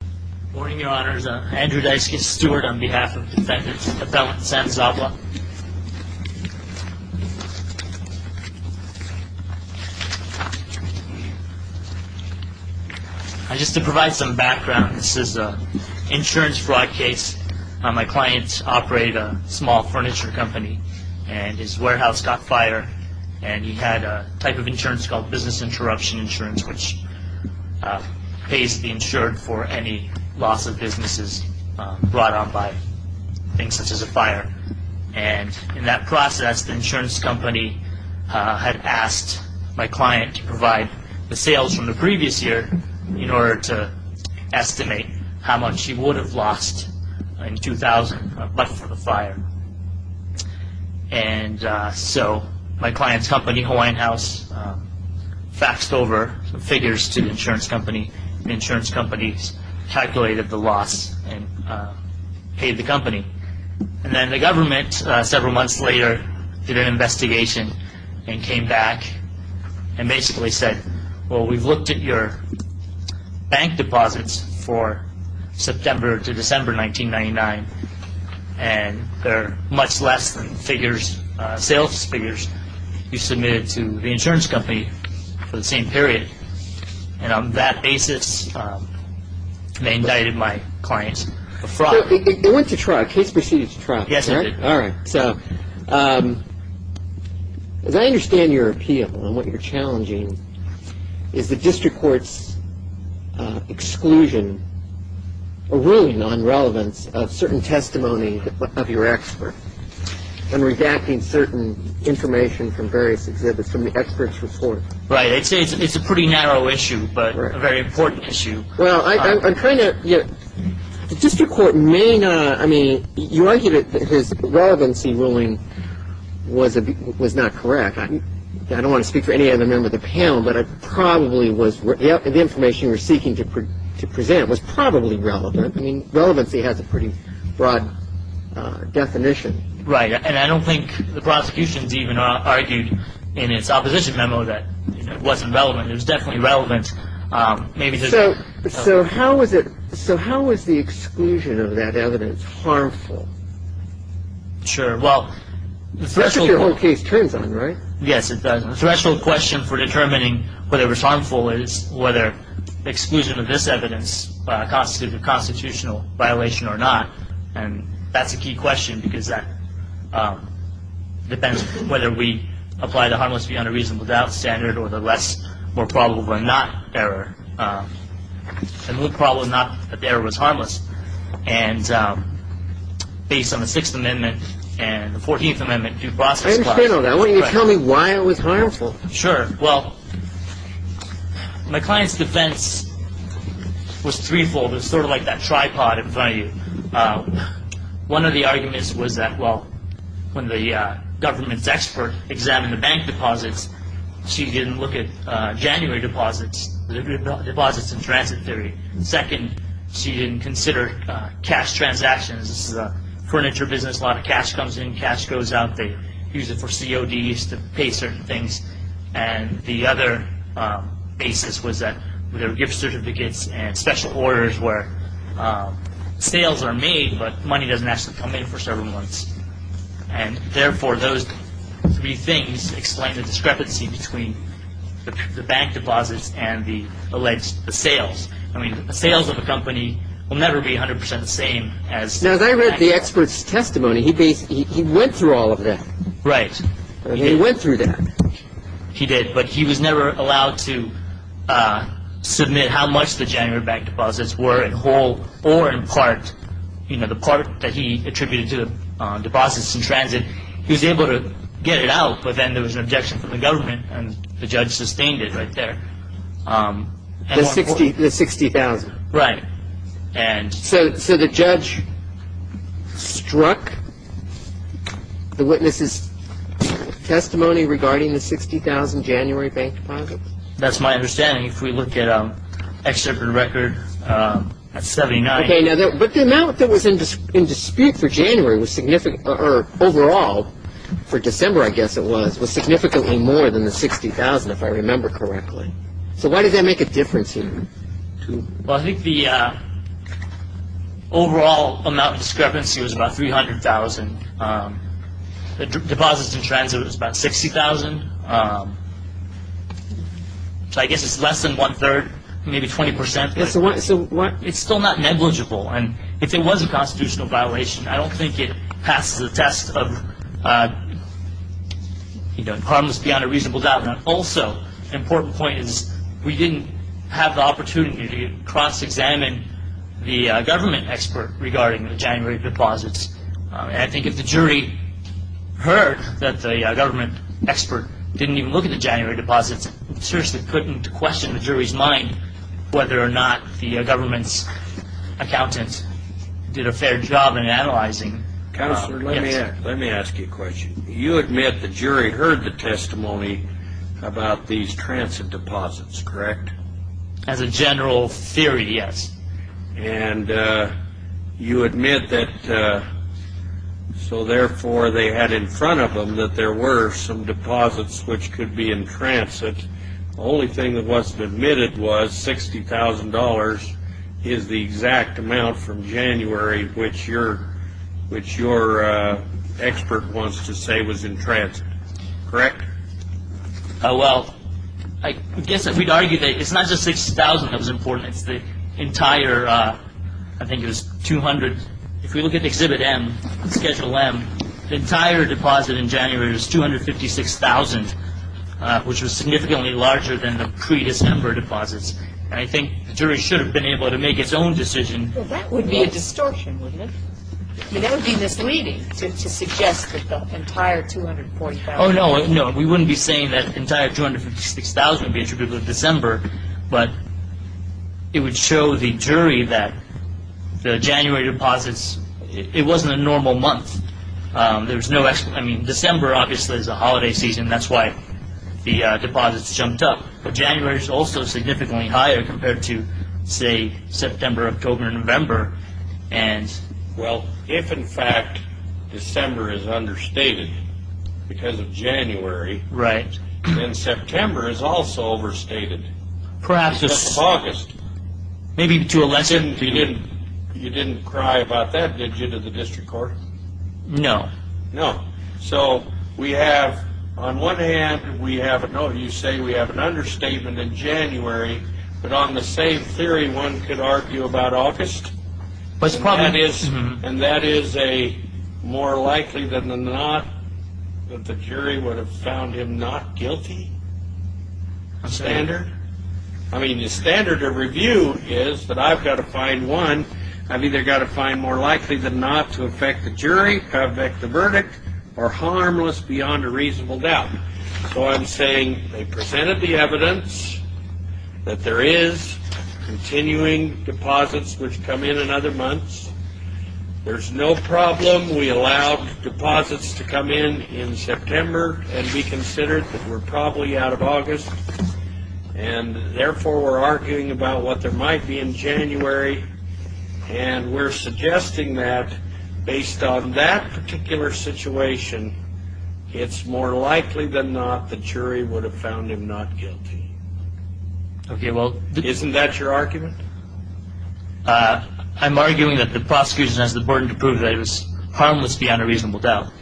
Good morning, your honors. Andrew Dyckis, steward on behalf of defendants appellant San Szabla. Just to provide some background, this is an insurance fraud case. My client operated a small furniture company and his warehouse got fired and he had a type of insurance called business interruption insurance, which pays the insured for any loss of businesses brought on by things such as a fire. And in that process, the insurance company had asked my client to provide the sales from the previous year in order to estimate how much he would faxed over figures to the insurance company. The insurance company calculated the loss and paid the company. And then the government, several months later, did an investigation and came back and basically said, well, we've looked at your bank deposits for September to December 1999 and they're much less than figures, sales figures you submitted to the government for the same period. And on that basis, they indicted my client for fraud. So it went to trial. The case proceeded to trial. Yes, it did. All right. So as I understand your appeal and what you're challenging is the district court's exclusion or ruling on relevance of certain testimony of your expert and redacting certain information from various reports. Right. It's a pretty narrow issue, but a very important issue. Well, I'm trying to get the district court may not. I mean, you argued that his relevancy ruling was was not correct. I don't want to speak for any other member of the panel, but it probably was the information you were seeking to present was probably relevant. I mean, relevancy has a pretty broad definition. Right. And I don't think the prosecution's even argued in its opposition memo that it wasn't relevant. It was definitely relevant. Maybe so. So how was it? So how was the exclusion of that evidence harmful? Sure. Well, that's what the whole case turns on, right? Yes. The threshold question for determining whether it was harmful is whether exclusion of this evidence constitute a constitutional violation or not. And that's a key question because that depends on whether we apply the harmless beyond a reasonable doubt standard or the less more probable or not error. And the problem is not that there was harmless. And based on the Sixth Amendment and the 14th Amendment due process. I understand all that. Why don't you tell me why it was harmful? Sure. Well, my client's defense was threefold. It's sort of like that tripod in front of you. One of the arguments was that, well, when the government's expert examined the bank deposits, she didn't look at January deposits, deposits in transit theory. Second, she didn't consider cash transactions. This is a furniture business. A lot of cash comes in, cash goes out. They use it for CODs to pay certain things. And the other basis was that there were gift certificates and special orders where sales are made, but money doesn't actually come in for several months. And therefore, those three things explain the discrepancy between the bank deposits and the alleged sales. I mean, the sales of a company will never be 100 percent the same as the bank deposits. Now, as I read the expert's testimony, he went through all of that. Right. He went through that. He did, but he was never allowed to submit how much the January bank deposits were in whole or in part. You know, the part that he attributed to the deposits in transit, he was able to get it out. But then there was an objection from the government and the judge sustained it right there. The 60,000. Right. And so the judge struck the witness's testimony regarding the 60,000 January bank deposits. That's my understanding. If we look at an excerpt from the record, that's 79. Okay. But the amount that was in dispute for January was significant or overall for December, I guess it was, was significantly more than the 60,000, if I remember correctly. So why did that make a difference here? Well, I think the overall amount of discrepancy was about 300,000. The deposits in transit was about 60,000. So I guess it's less than one third, maybe 20 percent. Yeah. So what it's still not negligible. And if it was a constitutional violation, I don't think it passes the test of, you know, harmless beyond a reasonable doubt. Also, an important point is we didn't have the opportunity to cross-examine the government expert regarding the January deposits. And I think if the jury heard that the government expert didn't even look at the January deposits, it seriously couldn't question the jury's mind whether or not the government's accountant did a fair job in analyzing. Counselor, let me ask you a question. You admit the jury heard the testimony about these transit deposits, correct? As a general theory, yes. And you admit that, so therefore, they had in front of them that there were some deposits which could be in transit. The only thing that wasn't admitted was $60,000 is the exact amount from correct? Well, I guess if we'd argue that it's not just $60,000 that was important. It's the entire, I think it was $200,000. If we look at Exhibit M, Schedule M, the entire deposit in January was $256,000, which was significantly larger than the pre-December deposits. And I think the jury should have been able to make its own decision. Well, that would be a distortion, wouldn't it? I mean, that would be misleading to suggest that the entire $246,000. Oh, no. No, we wouldn't be saying that the entire $256,000 would be attributable to December. But it would show the jury that the January deposits, it wasn't a normal month. There was no, I mean, December obviously is a holiday season. That's why the deposits jumped up. But January is also significantly higher compared to, say, September, October, November. Well, if in fact December is understated because of January, then September is also overstated because of August. Maybe to a lesser degree. You didn't cry about that, did you, to the district court? No. So we have, on one hand, we have, no, you say we have an understatement in January, but on the same theory one could argue about August. And that is a more likely than not that the jury would have found him not guilty standard. I mean, the standard of review is that I've got to find one. I've either got to find more likely than not to affect the jury, affect the verdict, or harmless beyond a reasonable doubt. So I'm saying they presented the evidence that there is continuing deposits which come in in other months. There's no problem. We allowed deposits to come in in September and we considered that we're probably out of August. And therefore we're arguing about what there might be in January. And we're suggesting that based on that particular situation, it's more likely than not the jury would have found him not guilty. Okay, well. Isn't that your argument? I'm arguing that the prosecution has the burden to prove that it was harmless beyond a reasonable doubt.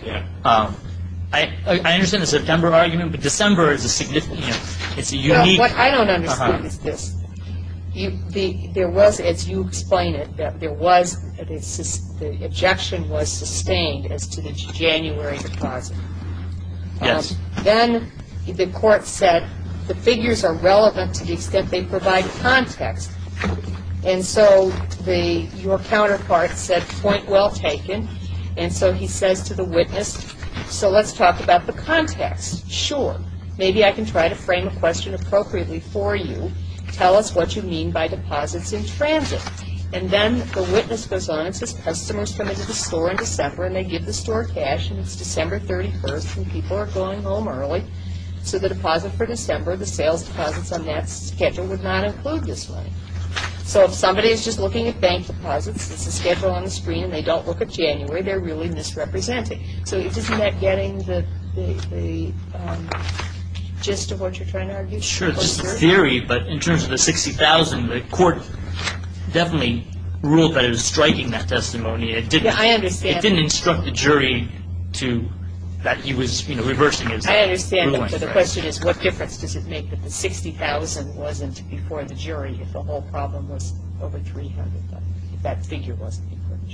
I understand the September argument, but December is a significant, it's a unique. What I don't understand is this. There was, as you explain it, that there was, the objection was sustained as to the January deposit. Yes. Then the court said the figures are relevant to the extent they provide context. And so your counterpart said, point well taken. And so he says to the witness, so let's talk about the context. Sure. Maybe I can try to frame a question appropriately for you. Tell us what you mean by deposits in transit. And then the witness goes on and says customers come into the store in December and they give the store cash. And it's December 31st and people are going home early. So the deposit for December, the sales deposits on that schedule would not include this money. So if somebody is just looking at bank deposits, there's a schedule on the screen, and they don't look at January, they're really misrepresenting. So isn't that getting the gist of what you're trying to argue? Sure. This is a theory, but in terms of the $60,000, the court definitely ruled that it was striking that testimony. I understand. It didn't instruct the jury to, that he was, you know, reversing it. I understand, but the question is what difference does it make that the $60,000 wasn't before the jury if the whole problem was over $300,000, if that figure wasn't before the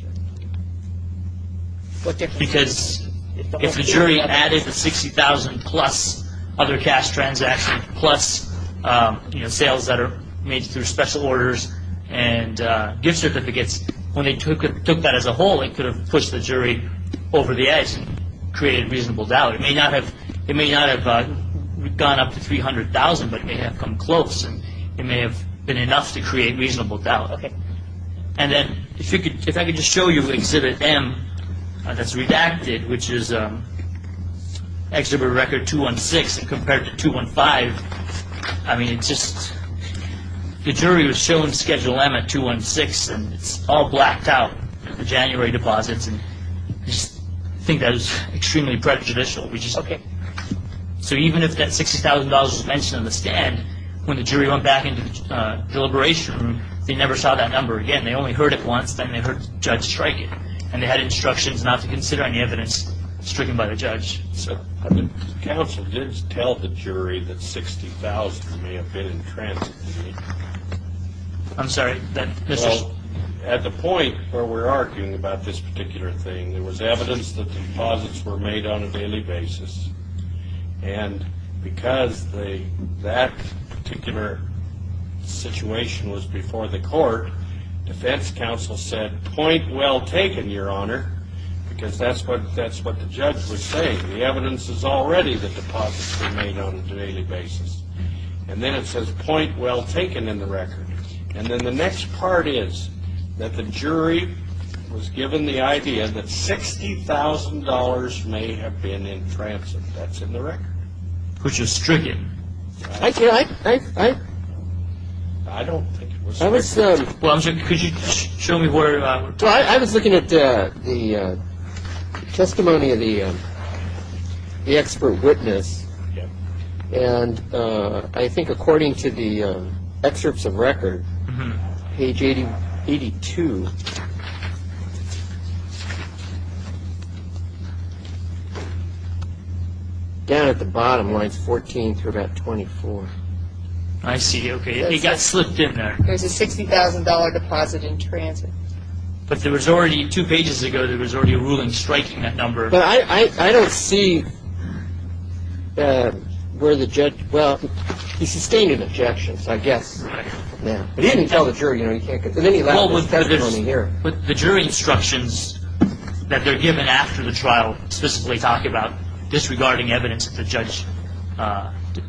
jury? Because if the jury added the $60,000 plus other cash transactions, plus, you know, sales that are made through special orders and gift certificates, when they took that as a whole, it could have pushed the jury over the edge and created reasonable doubt. It may not have gone up to $300,000, but it may have come close, and it may have been enough to create reasonable doubt. Okay. And then if I could just show you Exhibit M that's redacted, which is Exhibit Record 216, and compared to 215, I mean, it's just, the jury was shown Schedule M at 216, and it's all blacked out, the January deposits, and I think that is extremely prejudicial. Okay. So even if that $60,000 was mentioned on the stand, when the jury went back into the deliberation room, they never saw that number again. They only heard it once, then they heard the judge strike it, and they had instructions not to consider any evidence stricken by the judge. So the counsel did tell the jury that $60,000 may have been in transit. I'm sorry. Well, at the point where we're arguing about this particular thing, there was evidence that deposits were made on a daily basis, and because that particular situation was before the court, defense counsel said, point well taken, Your Honor, because that's what the judge was saying. The evidence is already that deposits were made on a daily basis. And then it says point well taken in the record. And then the next part is that the jury was given the idea that $60,000 may have been in transit. That's in the record. Which is stricken. I don't think it was stricken. Well, could you show me where I was looking? I was looking at the testimony of the expert witness, and I think according to the excerpts of record, page 82, down at the bottom, lines 14 through about 24. I see, okay. It got slipped in there. There's a $60,000 deposit in transit. But there was already, two pages ago, there was already a ruling striking that number. But I don't see where the judge, well, he sustained an objection, I guess. Right. But he didn't tell the jury, you know, he can't get to any level of testimony here. Well, but the jury instructions that they're given after the trial specifically talk about disregarding evidence that the judge,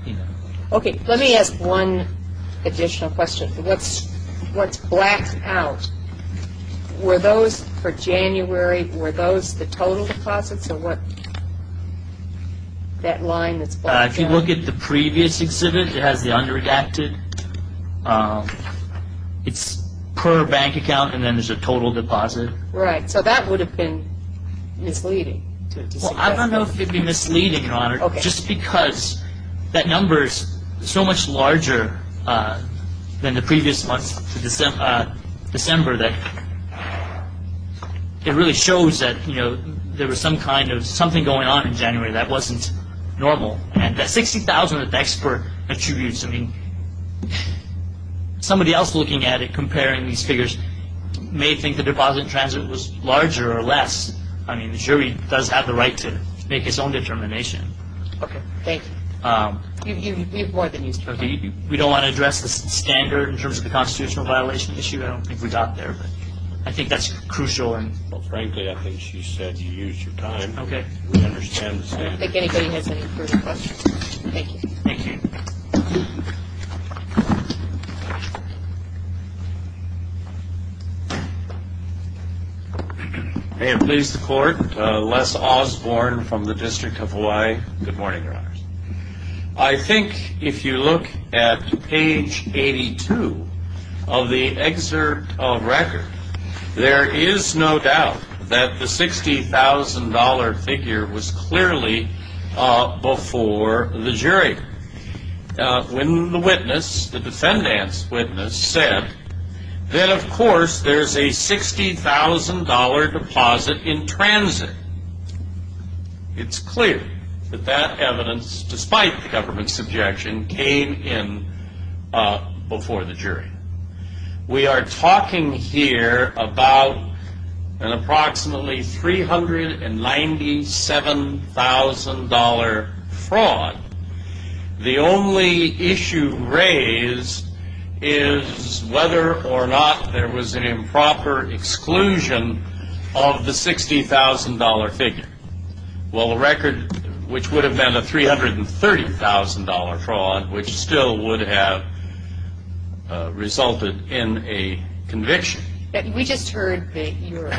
you know. Okay. Let me ask one additional question. What's blacked out, were those for January, were those the total deposits, or what, that line that's blacked out? If you look at the previous exhibit, it has the underreacted. It's per bank account, and then there's a total deposit. Right. So that would have been misleading. Well, I don't know if it would be misleading, Your Honor, just because that number is so much larger than the previous month to December that it really shows that, you know, there was some kind of something going on in January that wasn't normal. And that $60,000 that the expert attributes, I mean, somebody else looking at it, comparing these figures, may think the deposit in transit was larger or less. I mean, the jury does have the right to make its own determination. Okay. Thank you. We have more than you, sir. Okay. We don't want to address the standard in terms of the constitutional violation issue. I don't think we got there, but I think that's crucial. Well, frankly, I think she said you used your time. Okay. We understand the standard. I don't think anybody has any further questions. Thank you. Thank you. Thank you. May it please the Court, Les Osborne from the District of Hawaii. I think if you look at page 82 of the excerpt of record, there is no doubt that the $60,000 figure was clearly before the jury. When the witness, the defendant's witness, said that, of course, there's a $60,000 deposit in transit, it's clear that that evidence, despite the government's objection, came in before the jury. We are talking here about an approximately $397,000 fraud. The only issue raised is whether or not there was an improper exclusion of the $60,000 figure. Well, the record, which would have been a $330,000 fraud, which still would have resulted in a conviction. We just heard your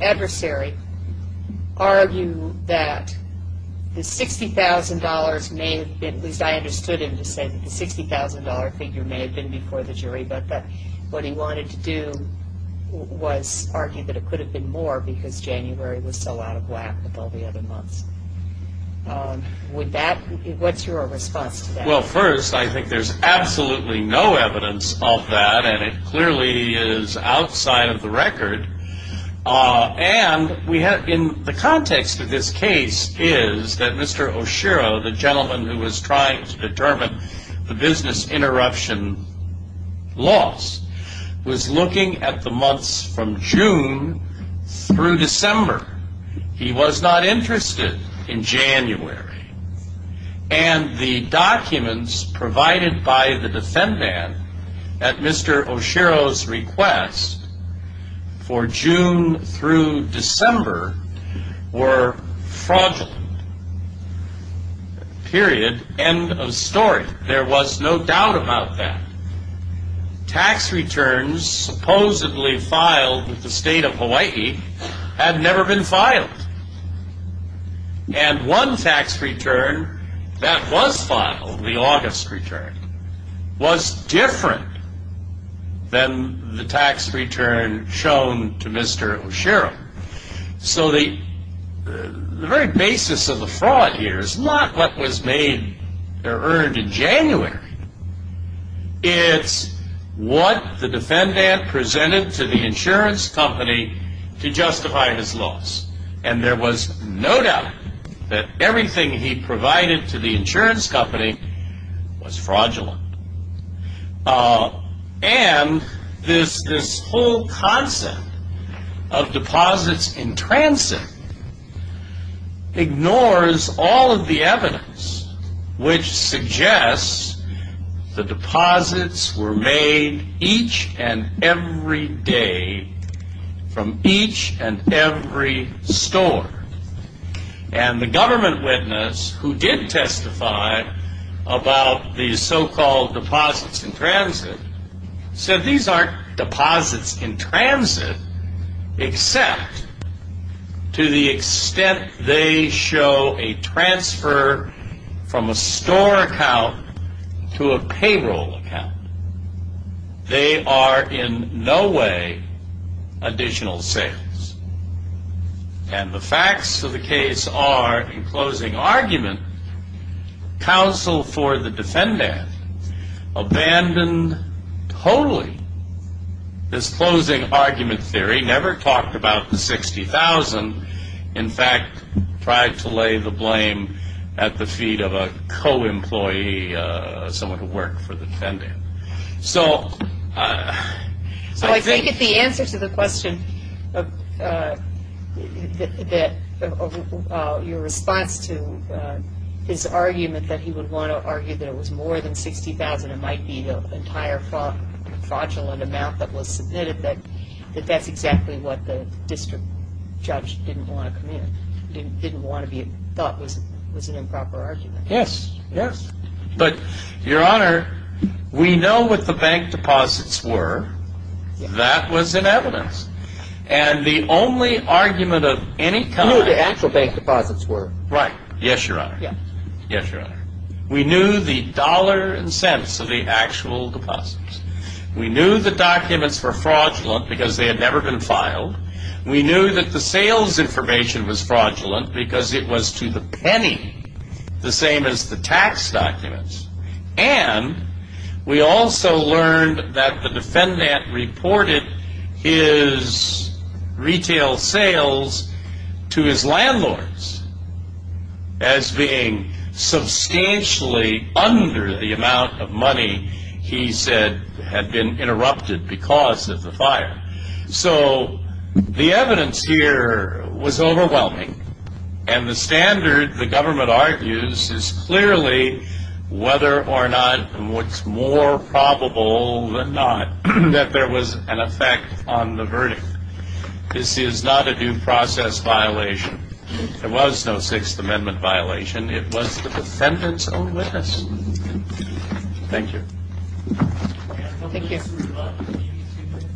adversary argue that the $60,000 may have been, at least I understood him to say that the $60,000 figure may have been before the jury, but what he wanted to do was argue that it could have been more because January was still out of whack with all the other months. What's your response to that? Well, first, I think there's absolutely no evidence of that, and it clearly is outside of the record. And the context of this case is that Mr. Oshiro, the gentleman who was trying to determine the business interruption loss, was looking at the months from June through December. He was not interested in January. And the documents provided by the defendant at Mr. Oshiro's request for June through December were fraudulent. Period. End of story. There was no doubt about that. Tax returns supposedly filed with the state of Hawaii had never been filed. And one tax return that was filed, the August return, was different than the tax return shown to Mr. Oshiro. So the very basis of the fraud here is not what was made or earned in January. It's what the defendant presented to the insurance company to justify his loss. And there was no doubt that everything he provided to the insurance company was fraudulent. And this whole concept of deposits in transit ignores all of the evidence which suggests the deposits were made each and every day from each and every store. And the government witness who did testify about these so-called deposits in transit said these aren't deposits in transit, except to the extent they show a transfer from a store account to a payroll account. They are in no way additional sales. And the facts of the case are, in closing argument, counsel for the defendant abandoned totally this closing argument theory, never talked about the $60,000, in fact, tried to lay the blame at the feet of a co-employee, someone who worked for the defendant. So I think... So I think that the answer to the question of your response to his argument that he would want to argue that it was more than $60,000 and it might be the entire fraudulent amount that was submitted, that that's exactly what the district judge didn't want to come in, didn't want to be, thought was an improper argument. Yes, yes. But, Your Honor, we know what the bank deposits were. That was in evidence. And the only argument of any kind... You knew what the actual bank deposits were. Right. Yes, Your Honor. Yes. Yes, Your Honor. We knew the dollar and cents of the actual deposits. We knew the documents were fraudulent because they had never been filed. We knew that the sales information was fraudulent because it was to the penny the same as the tax documents. And we also learned that the defendant reported his retail sales to his landlords as being substantially under the amount of money he said had been interrupted because of the fire. So the evidence here was overwhelming, and the standard the government argues is clearly whether or not it's more probable than not that there was an effect on the verdict. This is not a due process violation. It was no Sixth Amendment violation. It was the defendant's own witness. Thank you. Thank you. We have about maybe two minutes.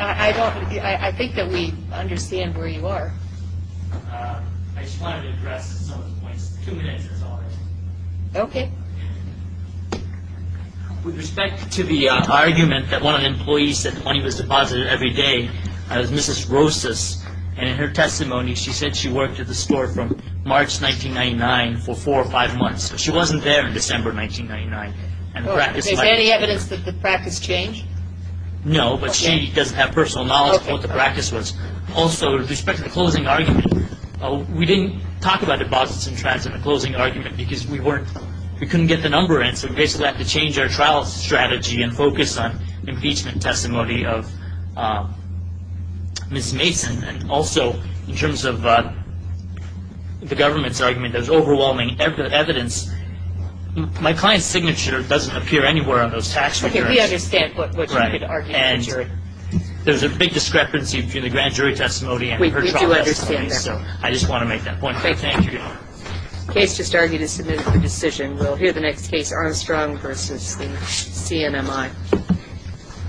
I think that we understand where you are. I just wanted to address some of the points. Two minutes is all I have. Okay. With respect to the argument that one of the employees said the money was deposited every day, that was Mrs. Rosas, and in her testimony she said she worked at the store from March 1999 for four or five months. She wasn't there in December 1999. Is there any evidence that the practice changed? No, but she doesn't have personal knowledge of what the practice was. Also, with respect to the closing argument, we didn't talk about deposits and transfers in the closing argument because we couldn't get the number in, so we basically had to change our trial strategy and focus on the impeachment testimony of Ms. Mason. Also, in terms of the government's argument, there's overwhelming evidence. My client's signature doesn't appear anywhere on those tax returns. We understand what you're arguing. There's a big discrepancy between the grand jury testimony and her trial testimony. We do understand that. I just want to make that point. Thank you. The case just argued is submitted for decision. We'll hear the next case, Armstrong v. CNMI.